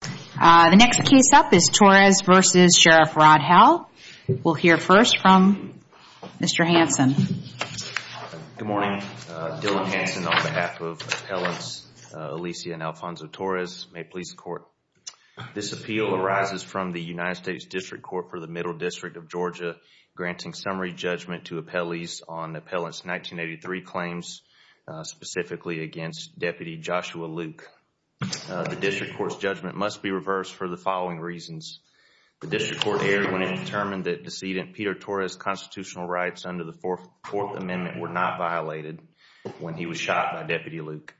The next case up is Torres v. Sheriff Rod Howell. We'll hear first from Mr. Hanson. Good morning. Dylan Hanson on behalf of Appellants Alicia and Alfonso Torres. May it please the Court. This appeal arises from the United States District Court for the Middle District of Georgia, granting summary judgment to appellees on Appellants 1983 claims, specifically against Deputy Joshua Luke. The District Court's judgment must be reversed for the following reasons. The District Court erred when it determined that decedent Peter Torres' constitutional rights under the Fourth Amendment were not violated when he was shot by Deputy Luke.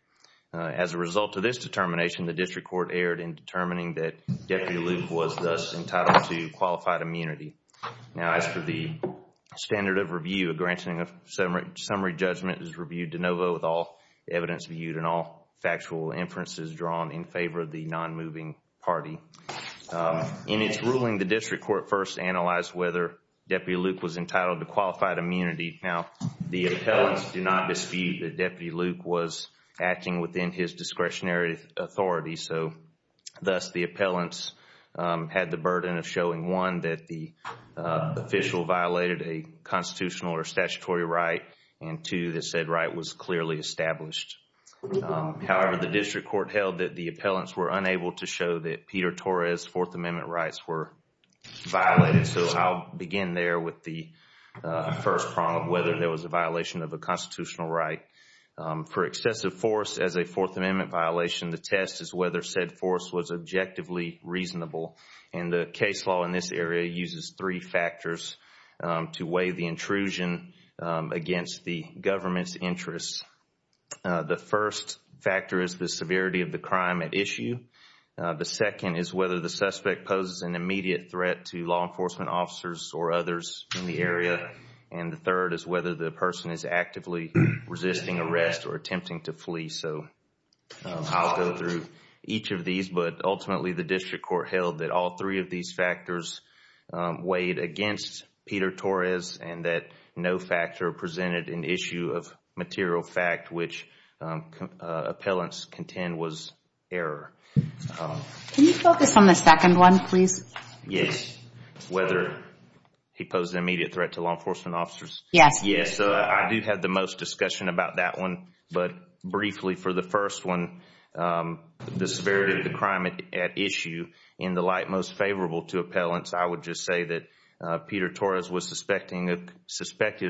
As a result of this determination, the District Court erred in determining that Deputy Luke was thus entitled to qualified immunity. Now, as per the standard of review, a granting of summary judgment is reviewed de novo with all evidence viewed and all factual inferences drawn in favor of the nonmoving party. In its ruling, the District Court first analyzed whether Deputy Luke was entitled to qualified immunity. Now, the appellants do not dispute that Deputy Luke was acting within his discretionary authority, so thus the appellants had the and two, that said right was clearly established. However, the District Court held that the appellants were unable to show that Peter Torres' Fourth Amendment rights were violated, so I'll begin there with the first prong of whether there was a violation of a constitutional right. For excessive force as a Fourth Amendment violation, the test is whether said force was objectively reasonable. And the case law in this area uses three factors to weigh the against the government's interests. The first factor is the severity of the crime at issue. The second is whether the suspect poses an immediate threat to law enforcement officers or others in the area. And the third is whether the person is actively resisting arrest or attempting to flee. So I'll go through each of these. But ultimately, the District Court held that all three of these factors weighed against Peter Torres and that no factor presented an issue of material fact, which appellants contend was error. Can you focus on the second one, please? Yes, whether he posed an immediate threat to law enforcement officers. Yes. Yes, I do have the most discussion about that one. But briefly, for the first one, the severity of the crime at issue in the light most favorable to appellants, I would just say that Peter Torres was suspected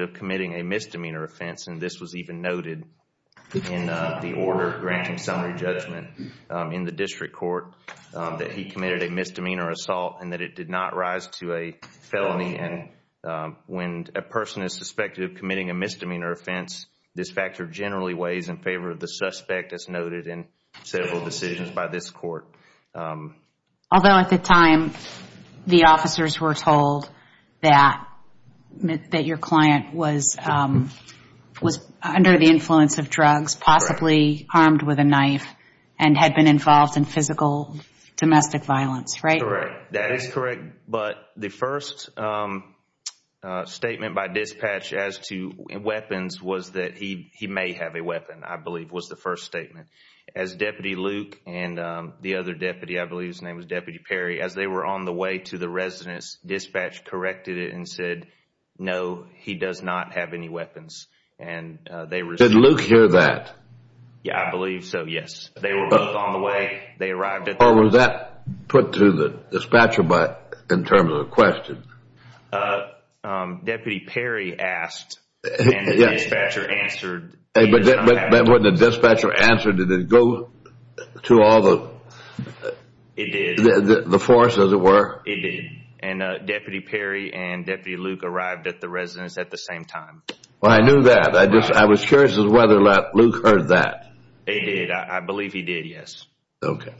of committing a misdemeanor offense. And this was even noted in the order granting summary judgment in the District Court that he committed a misdemeanor assault and that it did not rise to a felony. And when a person is suspected of committing a misdemeanor offense, this factor generally weighs in favor of the suspect, as noted. And several decisions by this court. Although at the time, the officers were told that your client was under the influence of drugs, possibly harmed with a knife, and had been involved in physical domestic violence, right? Correct. That is correct. But the first statement by dispatch as to weapons was that he may have a weapon, I believe was the first statement. As Deputy Luke and the other deputy, I believe his name was Deputy Perry, as they were on the way to the residence, dispatch corrected it and said, no, he does not have any weapons. Did Luke hear that? Yeah, I believe so, yes. They were both on the way. Or was that put to the dispatcher in terms of a question? Uh, um, Deputy Perry asked and the dispatcher answered. But when the dispatcher answered, did it go to all the forces, as it were? It did. And Deputy Perry and Deputy Luke arrived at the residence at the same time. Well, I knew that. I was curious as to whether Luke heard that. He did. I believe he did, yes. Okay.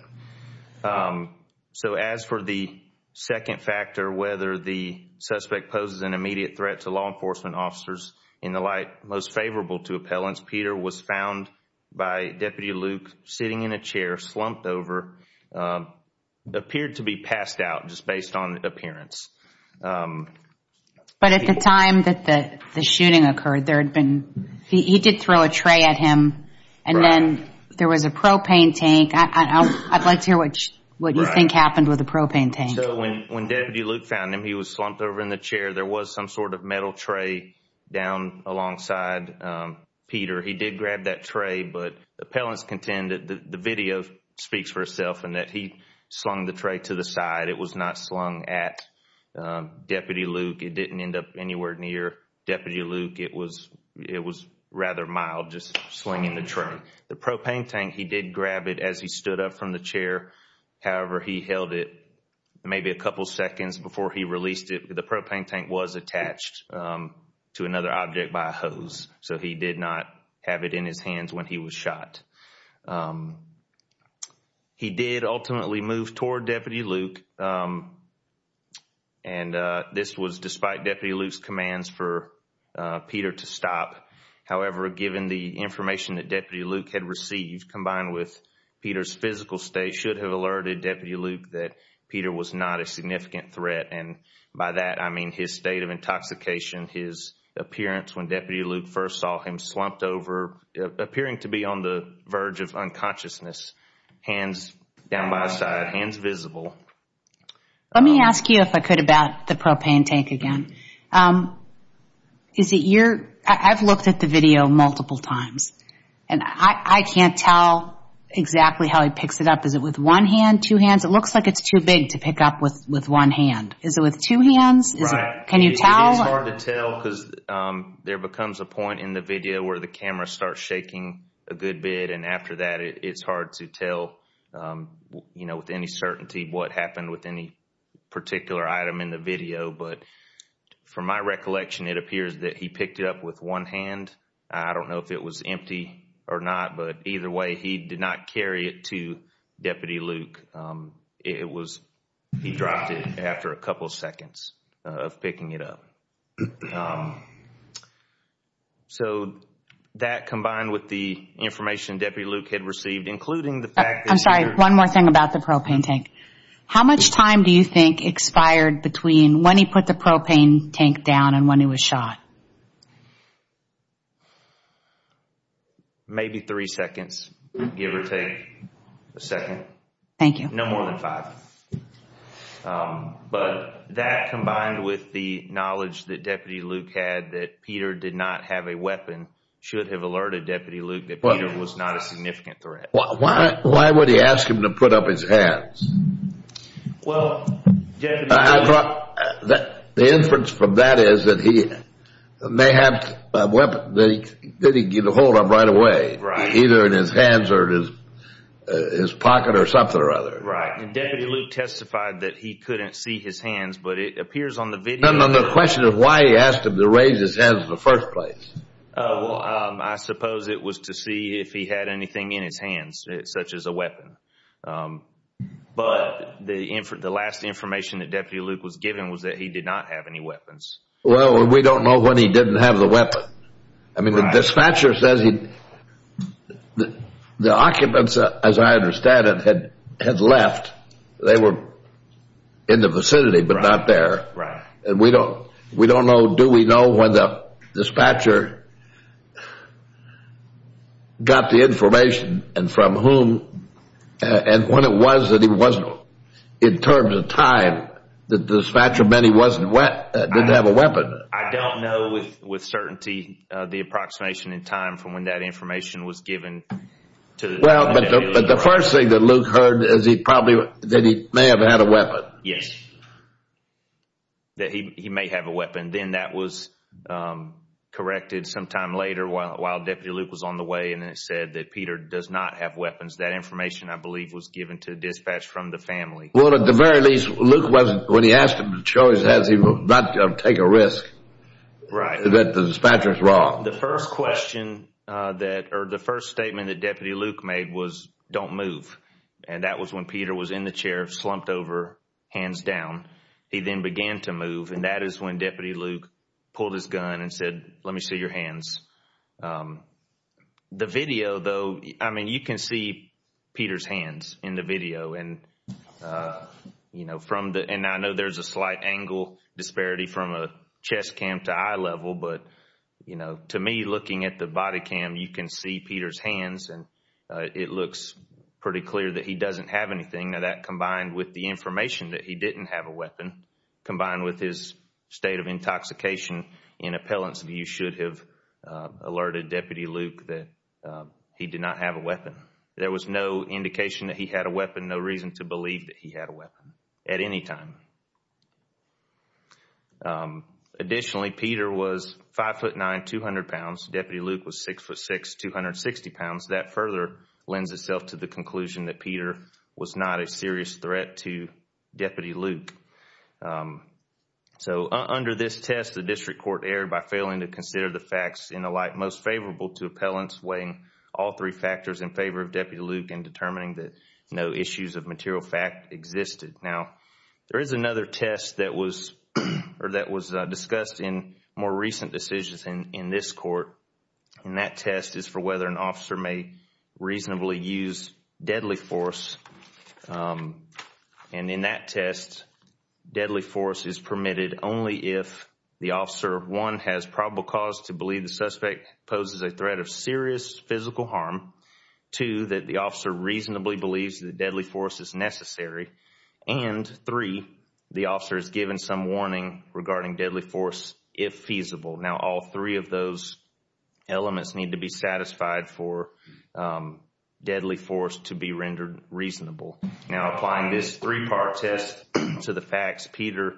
So as for the second factor, whether the suspect poses an immediate threat to law enforcement officers in the light most favorable to appellants, Peter was found by Deputy Luke sitting in a chair, slumped over, appeared to be passed out just based on appearance. But at the time that the shooting occurred, there had been, he did throw a tray at him, and then there was a propane tank. I'd like to hear what you think happened with the propane tank. When Deputy Luke found him, he was slumped over in the chair. There was some sort of metal tray down alongside Peter. He did grab that tray, but appellants contend that the video speaks for itself and that he slung the tray to the side. It was not slung at Deputy Luke. It didn't end up anywhere near Deputy Luke. It was rather mild, just slinging the tray. The propane tank, he did grab it as he stood up from the chair. However, he held it maybe a couple seconds before he released it. The propane tank was attached to another object by a hose, so he did not have it in his hands when he was shot. He did ultimately move toward Deputy Luke, and this was despite Deputy Luke's commands for Peter to stop. However, given the information that Deputy Luke had received, combined with Peter's physical state, should have alerted Deputy Luke that Peter was not a significant threat. By that, I mean his state of intoxication, his appearance when Deputy Luke first saw him slumped over, appearing to be on the verge of unconsciousness, hands down by his side, hands visible. Let me ask you, if I could, about the propane tank again. I've looked at the video multiple times, and I can't tell exactly how he picks it up. Is it with one hand, two hands? It looks like it's too big to pick up with one hand. Is it with two hands? Can you tell? It's hard to tell because there becomes a point in the video where the camera starts shaking a good bit, and after that, it's hard to tell with any certainty what happened with any particular item in the video. But from my recollection, it appears that he picked it up with one hand. I don't know if it was empty or not, but either way, he did not carry it to Deputy Luke. He dropped it after a couple of seconds of picking it up. So, that combined with the information Deputy Luke had received, including the fact that... I'm sorry, one more thing about the propane tank. How much time do you think expired between when he put the propane tank down and when he was shot? Maybe three seconds, give or take a second. Thank you. No more than five. But that combined with the knowledge that Deputy Luke had that Peter did not have a weapon should have alerted Deputy Luke that Peter was not a significant threat. Why would he ask him to put up his hands? Well, Deputy Luke... I thought the inference from that is that he may have a weapon that he can get a hold of right away, either in his hands or in his pocket or something or other. Right. And Deputy Luke testified that he couldn't see his hands, but it appears on the video... No, no, no. The question is why he asked him to raise his hands in the first place. Well, I suppose it was to see if he had anything in his hands, such as a weapon. But the last information that Deputy Luke was given was that he did not have any weapons. Well, we don't know when he didn't have the weapon. I mean, the dispatcher says the occupants, as I understand it, had left. They were in the vicinity, but not there. Right. And we don't know. Do we know when the dispatcher got the information and from whom and when it was that he wasn't in terms of time that the dispatcher meant he didn't have a weapon? I don't know with certainty the approximation in time from when that information was given. Well, but the first thing that Luke heard is he probably that he may have had a weapon. Yes. That he may have a weapon. Then that was corrected sometime later while Deputy Luke was on the way. And it said that Peter does not have weapons. That information, I believe, was given to dispatch from the family. Well, at the very least, Luke wasn't when he asked him to show his hands, he will not take a risk that the dispatcher is wrong. The first question that or the first statement that Deputy Luke made was don't move. And that was when Peter was in the chair, slumped over, hands down. He then began to move. And that is when Deputy Luke pulled his gun and said, let me see your hands. The video, though, I mean, you can see Peter's hands in the video. And, you know, from the and I know there's a slight angle disparity from a chest cam to eye level. But, you know, to me, looking at the body cam, you can see Peter's hands and it looks pretty clear that he doesn't have anything that combined with the information that he didn't have a weapon combined with his state of intoxication in appellants, you should have alerted Deputy Luke that he did not have a weapon. There was no indication that he had a weapon, no reason to believe that he had a weapon at any time. Additionally, Peter was 5'9", 200 pounds. Deputy Luke was 6'6", 260 pounds. That further lends itself to the conclusion that Peter was not a serious threat to Deputy Luke. So under this test, the district court erred by failing to consider the facts in the light most favorable to appellants weighing all three factors in favor of Deputy Luke and determining that no issues of material fact existed. Now, there is another test that was discussed in more recent decisions in this court. And that test is for whether an officer may reasonably use deadly force. And in that test, deadly force is permitted only if the officer, one, has probable cause to believe the suspect poses a threat of serious physical harm. Two, that the officer reasonably believes that deadly force is necessary. And three, the officer is given some warning regarding deadly force if feasible. Now, all three of those elements need to be satisfied for deadly force to be rendered reasonable. Now, applying this three-part test to the facts, Peter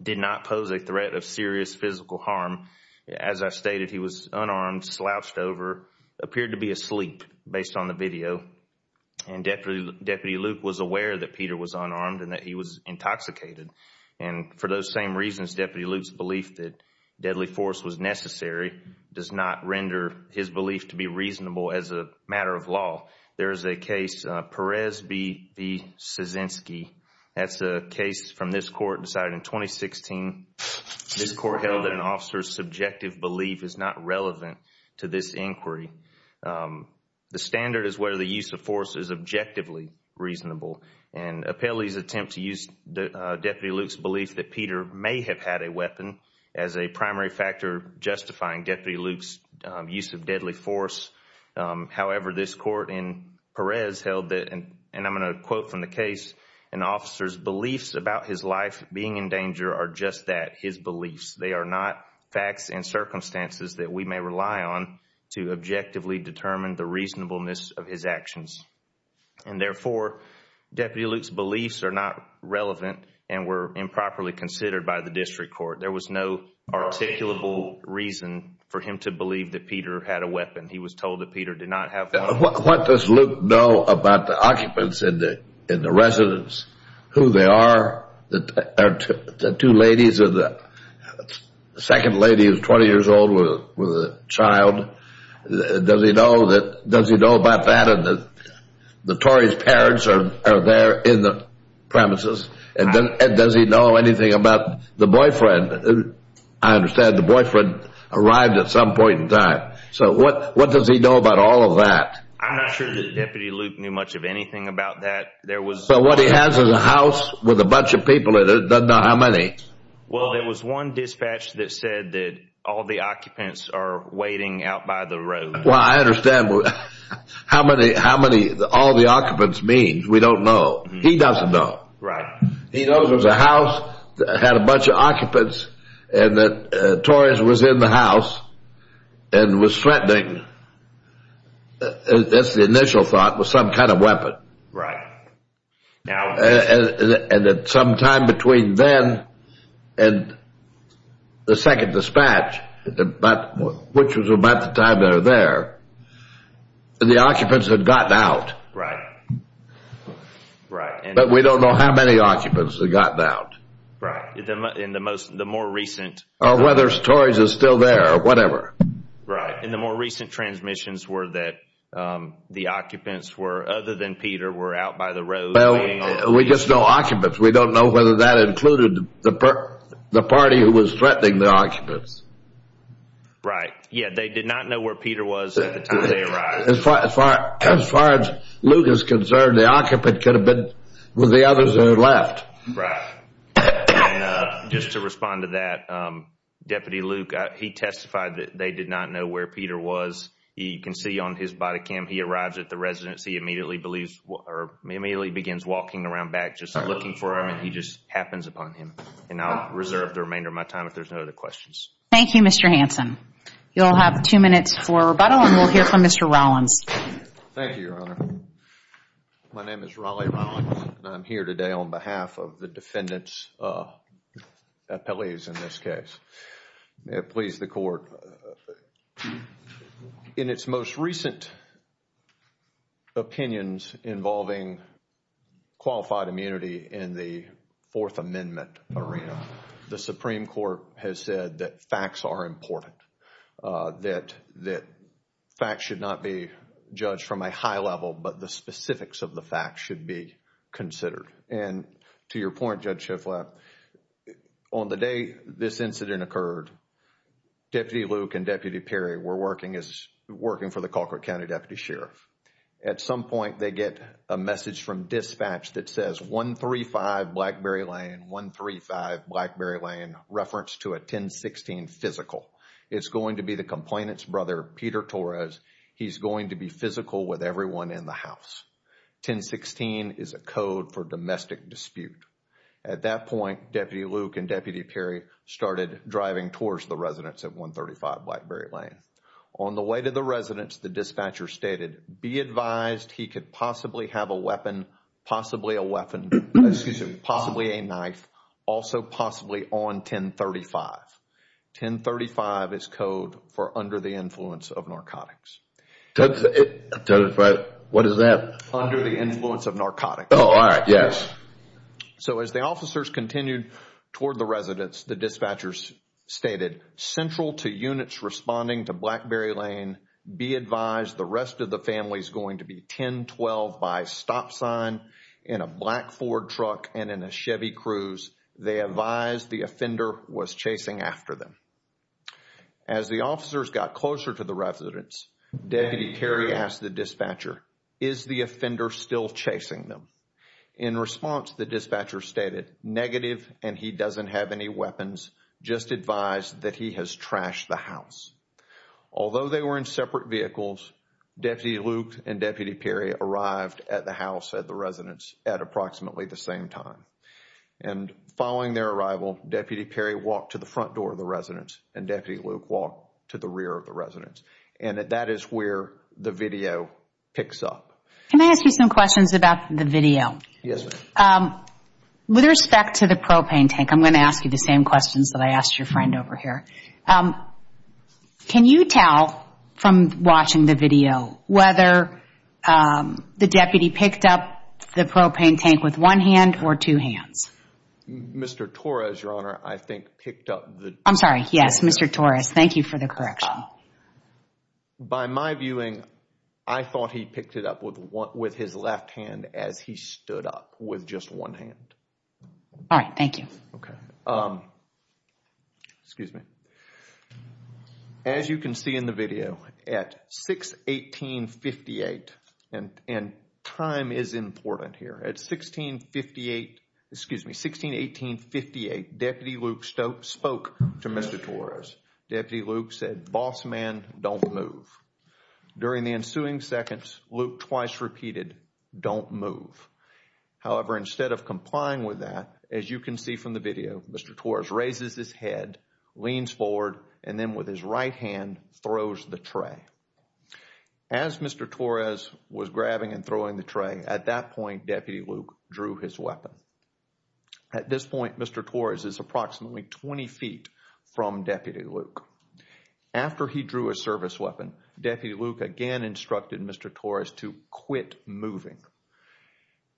did not pose a threat of serious physical harm. As I stated, he was unarmed, slouched over, appeared to be asleep based on the video. And Deputy Luke was aware that Peter was unarmed and that he was intoxicated. And for those same reasons, Deputy Luke's belief that to be reasonable as a matter of law, there is a case, Perez v. Szyzynski. That is a case from this court decided in 2016. This court held that an officer's subjective belief is not relevant to this inquiry. The standard is whether the use of force is objectively reasonable. And Appellee's attempt to use Deputy Luke's belief that Peter may have had a weapon as a primary factor justifying Deputy Luke's use of deadly force. However, this court in Perez held that, and I'm going to quote from the case, an officer's beliefs about his life being in danger are just that, his beliefs. They are not facts and circumstances that we may rely on to objectively determine the reasonableness of his actions. And therefore, Deputy Luke's beliefs are not relevant and were improperly considered by the District Court. There was no articulable reason for him to believe that Peter had a weapon. He was told that Peter did not have one. What does Luke know about the occupants and the residents? Who they are? The two ladies, the second lady is 20 years old with a child. Does he know about that? And the Torrey's parents are there in the district. Does he know anything about the boyfriend? I understand the boyfriend arrived at some point in time. So what does he know about all of that? I'm not sure that Deputy Luke knew much of anything about that. So what he has is a house with a bunch of people in it. He doesn't know how many. Well, there was one dispatch that said that all the occupants are waiting out by the road. Well, I understand how many all the occupants means. We don't know. He doesn't know. Right. He knows it was a house that had a bunch of occupants and that Torres was in the house and was threatening. That's the initial thought was some kind of weapon. Right. And at some time between then and the second dispatch, which was about the time they were there, the occupants had gotten out. Right. Right. But we don't know how many occupants had gotten out. Right. In the most, the more recent. Whether Torres is still there or whatever. Right. And the more recent transmissions were that the occupants were, other than Peter, were out by the road. Well, we just know occupants. We don't know whether that included the party who was threatening the occupants. Right. Yeah. They did not know where Peter was as far as far as Luke is concerned, the occupant could have been with the others who left. Right. And just to respond to that, Deputy Luke, he testified that they did not know where Peter was. You can see on his body cam, he arrives at the residency, immediately believes or immediately begins walking around back just looking for him. And he just happens upon him. And I'll reserve the remainder of my time if there's no other questions. Thank you, Mr. Hanson. You'll have two minutes for rebuttal and we'll hear from Mr. Rollins. Thank you, Your Honor. My name is Raleigh Rollins and I'm here today on behalf of the defendant's appellees in this case. May it please the court. In its most recent opinions involving qualified immunity in the Fourth Amendment arena, the Supreme Court has said that facts are important, that facts should not be judged from a high level, but the specifics of the facts should be considered. And to your point, Judge Shifflap, on the day this incident occurred, Deputy Luke and Deputy Perry were working for the Colquitt County Deputy Sheriff. At some point, they get a message from dispatch that says 135 Blackberry Lane, 135 Blackberry Lane, reference to a 1016 physical. It's going to be the complainant's brother, Peter Torres. He's going to be physical with everyone in the house. 1016 is a code for domestic dispute. At that point, Deputy Luke and Deputy Perry started driving towards the residence at 135 Blackberry Lane. On the way to the residence, the dispatcher stated, be advised he could possibly have a weapon, possibly a weapon, possibly a knife, also possibly on 1035. 1035 is code for under the influence of narcotics. What is that? Under the influence of narcotics. Oh, all right. Yes. So as the officers continued toward the residence, the dispatchers stated, central to units responding to Blackberry Lane, be advised the rest of the family is going to be 1012 by stop sign in a black Ford truck and in a Chevy Cruze. They advised the offender was chasing after them. As the officers got closer to the residence, Deputy Perry asked the dispatcher, is the offender still chasing them? In response, the dispatcher stated, negative and he doesn't have any weapons, just advised that he has trashed the house. Although they were in separate vehicles, Deputy Luke and Deputy Perry arrived at the house at the residence at approximately the same time. Following their arrival, Deputy Perry walked to the front door of the residence and Deputy Luke walked to the rear of the residence. That is where the video picks up. Can I ask you some questions about the video? Yes. With respect to the propane tank, I'm going to ask you the same questions that I asked your friend over here. Can you tell from watching the video whether the deputy picked up the propane tank with one hand or two hands? Mr. Torres, Your Honor, I think picked up the... I'm sorry. Yes, Mr. Torres. Thank you for the correction. By my viewing, I thought he picked it up with his left hand as he stood up with just one hand. All right. Thank you. Okay. Excuse me. As you can see in the video, at 618.58, and time is important here, at 1658, excuse me, 1618.58, Deputy Luke spoke to Mr. Torres. Deputy Luke said, boss man, don't move. During the ensuing seconds, Luke twice repeated, don't move. However, instead of complying with that, as you can see from the video, Mr. Torres raises his head, leans forward, and then with his right hand, throws the tray. As Mr. Torres was grabbing and throwing the tray, at that point, Deputy Luke drew his weapon. At this point, Mr. Torres is approximately 20 feet from Deputy Luke. After he drew a service weapon, Deputy Luke again instructed Mr. Torres to quit moving.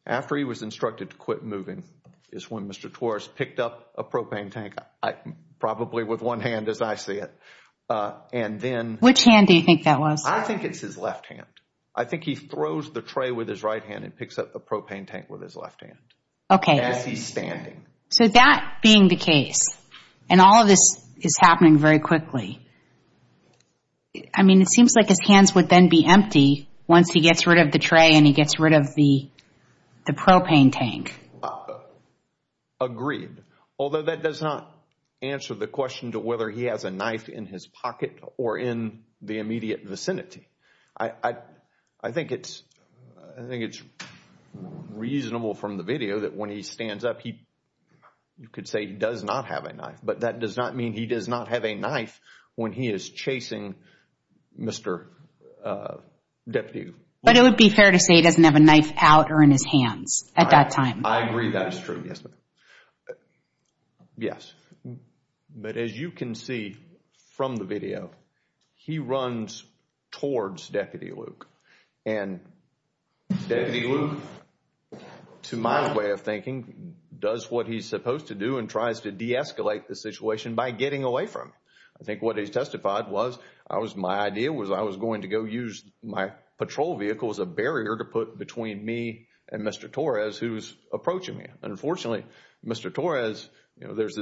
After he was instructed to quit moving is when Mr. Torres picked up a propane tank, probably with one hand as I see it, and then... Which hand do you think that was? I think it's his left hand. I think he throws the tray with his right hand and picks up a propane tank with his left hand. Okay. As he's standing. So that being the case, and all of this is empty once he gets rid of the tray and he gets rid of the propane tank. Agreed. Although that does not answer the question to whether he has a knife in his pocket or in the immediate vicinity. I think it's reasonable from the video that when he stands up, you could say he does not have a knife, but that does not mean he does not have a knife when he is chasing Mr. Deputy Luke. But it would be fair to say he doesn't have a knife out or in his hands at that time. I agree that is true. Yes. But as you can see from the video, he runs towards Deputy Luke. And Deputy Luke, to my way of thinking, does what he's supposed to do and tries to de-escalate the situation by getting away from him. I think what he testified was my idea was I was going to go use my patrol vehicle as a barrier to put between me and Mr. Torres who's approaching me. Unfortunately, Mr. Torres, there's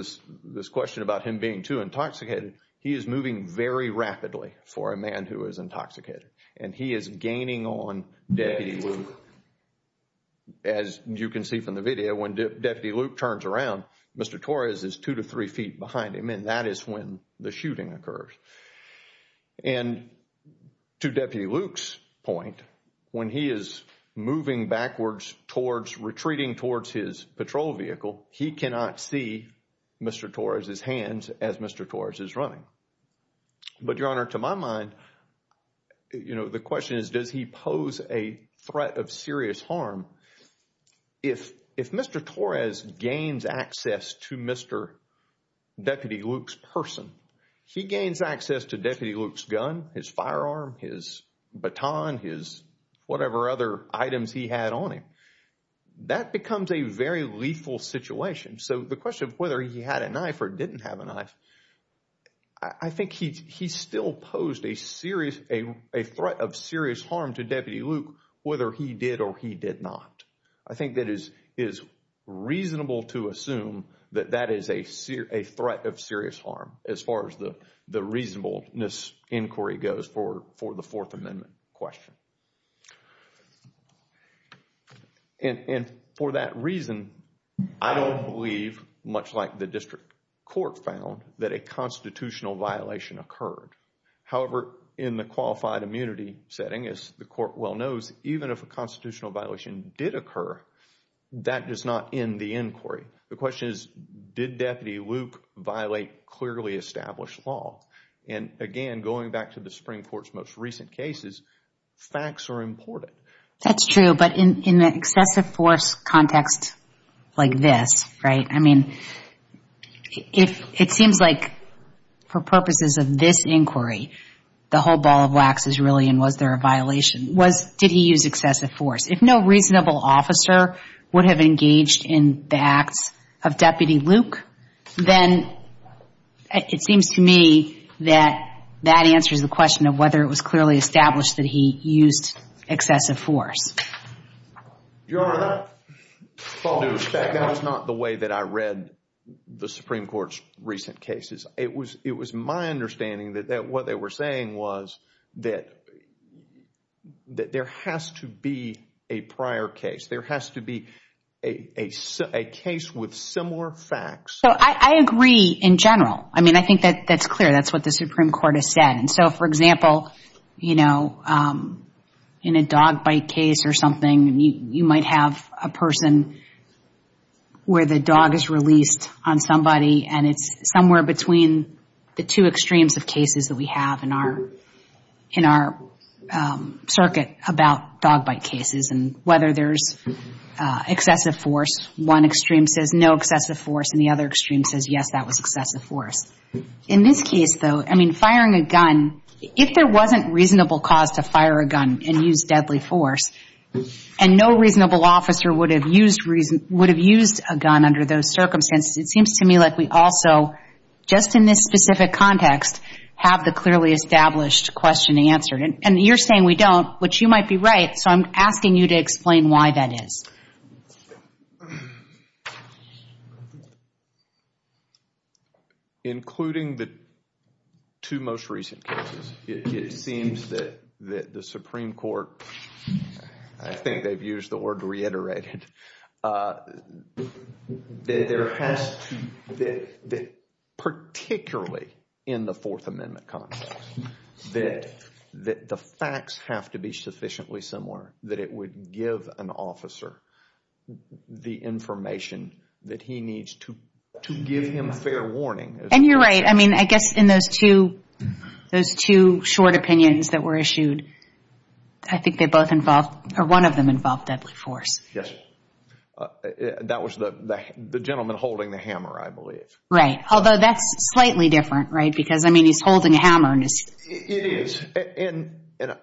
this question about him being too intoxicated. He is moving very rapidly for a man who is intoxicated and he is gaining on Deputy Luke. As you can see from the video, when Deputy Luke turns around, Mr. Torres is two to three feet behind him and that is when the shooting occurs. And to Deputy Luke's point, when he is moving backwards towards retreating towards his patrol vehicle, he cannot see Mr. Torres' hands as Mr. Torres is running. But Your Honor, to my mind, you know, the question is, does he pose a threat of serious harm? If Mr. Torres gains access to Mr. Deputy Luke's person, he gains access to Deputy Luke's gun, his firearm, his baton, his whatever other items he had on him. That becomes a very lethal situation. So the question of whether he had a knife or didn't have a knife, I think he still posed a threat of serious harm to Deputy Luke whether he did or he did not. I think that it is reasonable to assume that that is a threat of serious harm as far as the reasonableness inquiry goes for the Fourth Amendment question. And for that reason, I don't believe, much like the district court found, that a constitutional violation occurred. However, in the qualified immunity setting, as the court well knows, even if a constitutional violation did occur, that does not end the inquiry. The question is, did Deputy Luke violate clearly established law? And again, going back to the Supreme Court's most important question, did he use excessive force? If no reasonable officer would have engaged in the acts of Deputy Luke, then it seems to me that that answers the question of whether it was established that he used excessive force. Your Honor, that was not the way that I read the Supreme Court's recent cases. It was my understanding that what they were saying was that there has to be a prior case. There has to be a case with similar facts. So I agree in general. I mean, I think that's clear. That's what the Supreme Court has said. And so, for example, you know, in a dog bite case or something, you might have a person where the dog is released on somebody, and it's somewhere between the two extremes of cases that we have in our circuit about dog bite cases. And whether there's excessive force, one extreme says no excessive force, and the other extreme says yes, that was excessive force. In this case, I mean, firing a gun, if there wasn't reasonable cause to fire a gun and use deadly force, and no reasonable officer would have used a gun under those circumstances, it seems to me like we also, just in this specific context, have the clearly established question answered. And you're saying we don't, which you might be right, so I'm asking you to explain why that is. Including the two most recent cases, it seems that the Supreme Court, I think they've used the word reiterated, that there has to, that particularly in the Fourth Amendment context, that the facts have to be sufficiently similar that it would give an officer the information that he needs to give him fair warning. And you're right. I mean, I guess in those two short opinions that were issued, I think they both involved, or one of them involved deadly force. Yes. That was the gentleman holding the hammer, I believe. Right. Although that's slightly different, right? Because, I mean, he's holding a hammer. It is. And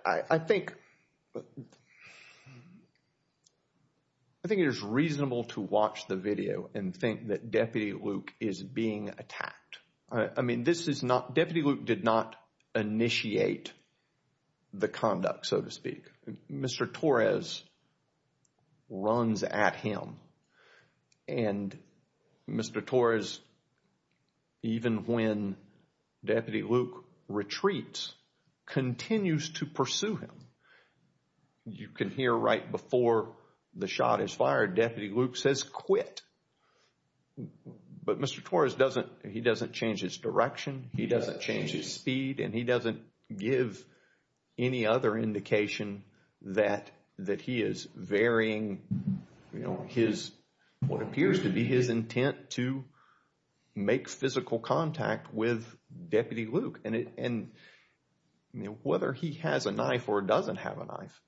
I think, I think it is reasonable to watch the video and think that Deputy Luke is being attacked. I mean, this is not, Deputy Luke did not initiate the conduct, so to speak. Mr. Torres runs at him. And Mr. Torres, even when Deputy Luke retreats, continues to pursue him. You can hear right before the shot is fired, Deputy Luke says quit. But Mr. Torres doesn't, he doesn't change his direction, he doesn't change his speed, and he doesn't give any other indication that he is varying his, what appears to be his intent to make physical contact with Deputy Luke. And whether he has a knife or doesn't have a knife,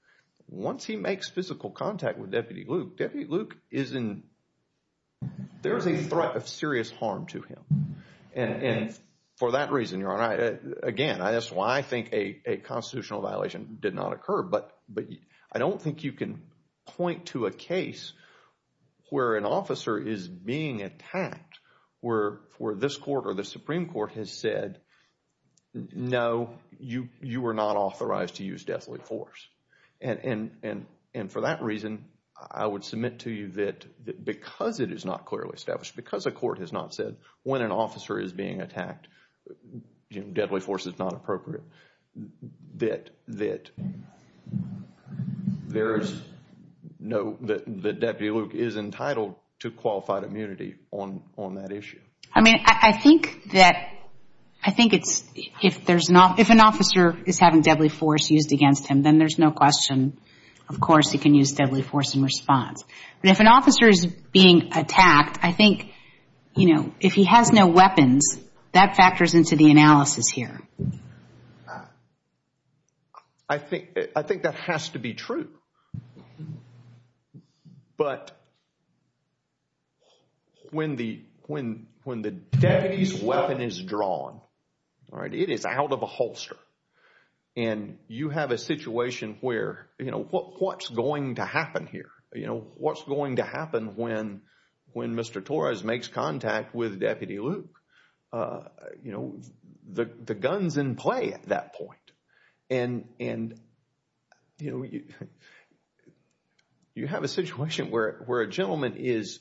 once he makes physical contact with Deputy Luke, Deputy Luke is in, there is a threat of serious harm to him. And for that reason, Your Honor, again, that's why I think a constitutional violation did not occur. But I don't think you can point to a case where an officer is being attacked, where this court or the Supreme Court has said, no, you are not authorized to use deadly force. And for that reason, I would submit to you that because it is not clearly established, because a court has not said, when an officer is being attacked, deadly force is not appropriate, that there is no, that Deputy Luke is entitled to qualified immunity on that issue. I mean, I think that, I think it's, if there's not, if an officer is having deadly force used against him, then there's no question, of course, he can use deadly force in response. But if an officer is being attacked, I think, you know, if he has no weapons, that factors into the analysis here. I think that has to be true. But when the Deputy's weapon is drawn, right, it is out of a holster. And you have a situation where, you know, what's going to happen here? You know, what's going to happen when Mr. Torres makes contact with Deputy Luke? You know, the gun's in play at that point. And, you know, you have a situation where a gentleman is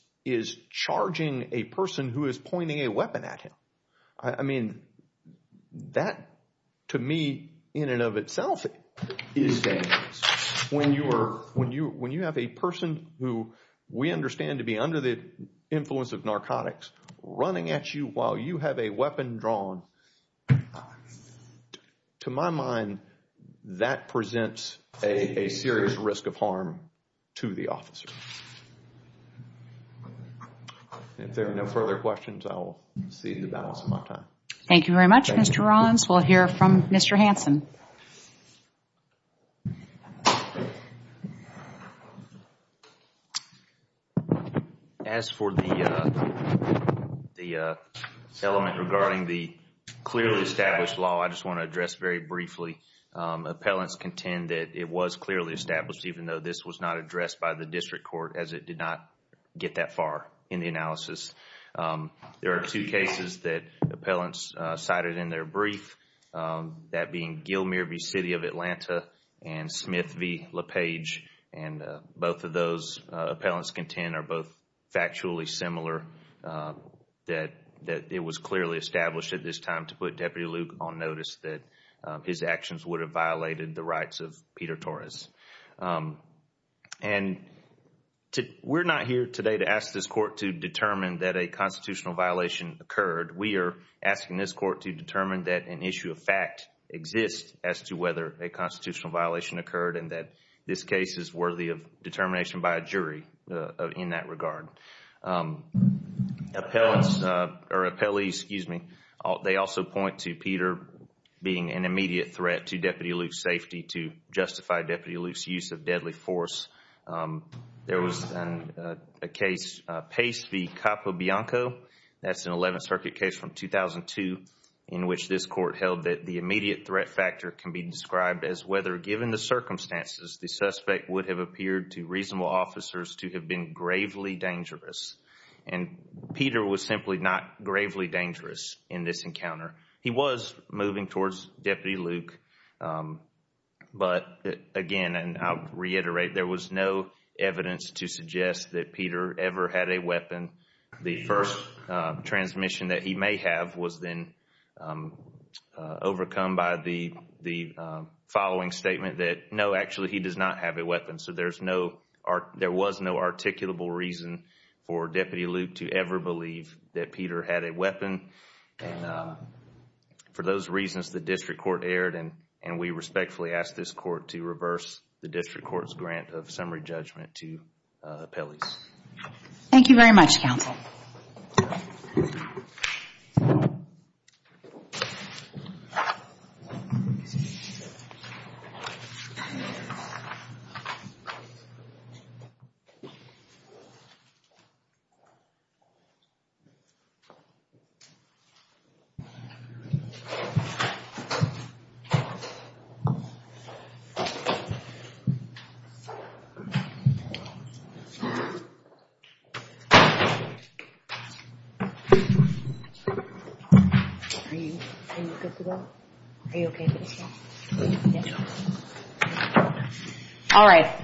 charging a person who is pointing a weapon at him. I mean, that, to me, in and of itself, is dangerous. When you have a person who we understand to be under the influence of narcotics running at you while you have a weapon drawn, to my mind, that presents a serious risk of harm to the officer. If there are no further questions, I will cede the balance of my time. Thank you very much, Mr. Rollins. We'll hear from Mr. Hansen. As for the element regarding the clearly established law, I just want to address very briefly that it was not addressed by the District Court as it did not get that far in the analysis. There are two cases that appellants cited in their brief, that being Gilmere v. City of Atlanta and Smith v. LaPage. And both of those appellants contend are both factually similar, that it was clearly established at this time to put Deputy Luke on notice that his actions would have violated the rights of Peter Torres. We're not here today to ask this court to determine that a constitutional violation occurred. We are asking this court to determine that an issue of fact exists as to whether a constitutional violation occurred and that this case is worthy of determination by a jury in that regard. They also point to Peter being an immediate threat to Deputy Luke's safety to justify Deputy Luke's use of deadly force. There was a case, Pace v. Capobianco. That's an 11th Circuit case from 2002 in which this court held that the immediate threat factor can be described as whether, given the circumstances, the suspect would have appeared to reasonable officers to have been gravely dangerous. And Peter was simply not gravely dangerous in this encounter. He was moving towards Deputy Luke. But, again, and I'll reiterate, there was no evidence to suggest that Peter ever had a weapon. The first transmission that he may have was then overcome by the following statement that, no, actually, he does not have a weapon. So there was no articulable reason for Deputy Luke to ever believe that Peter had a weapon. For those reasons, the district court erred and we respectfully ask this court to reverse the district court's grant of summary judgment to appellees. Thank you very much, counsel. Thank you. All right.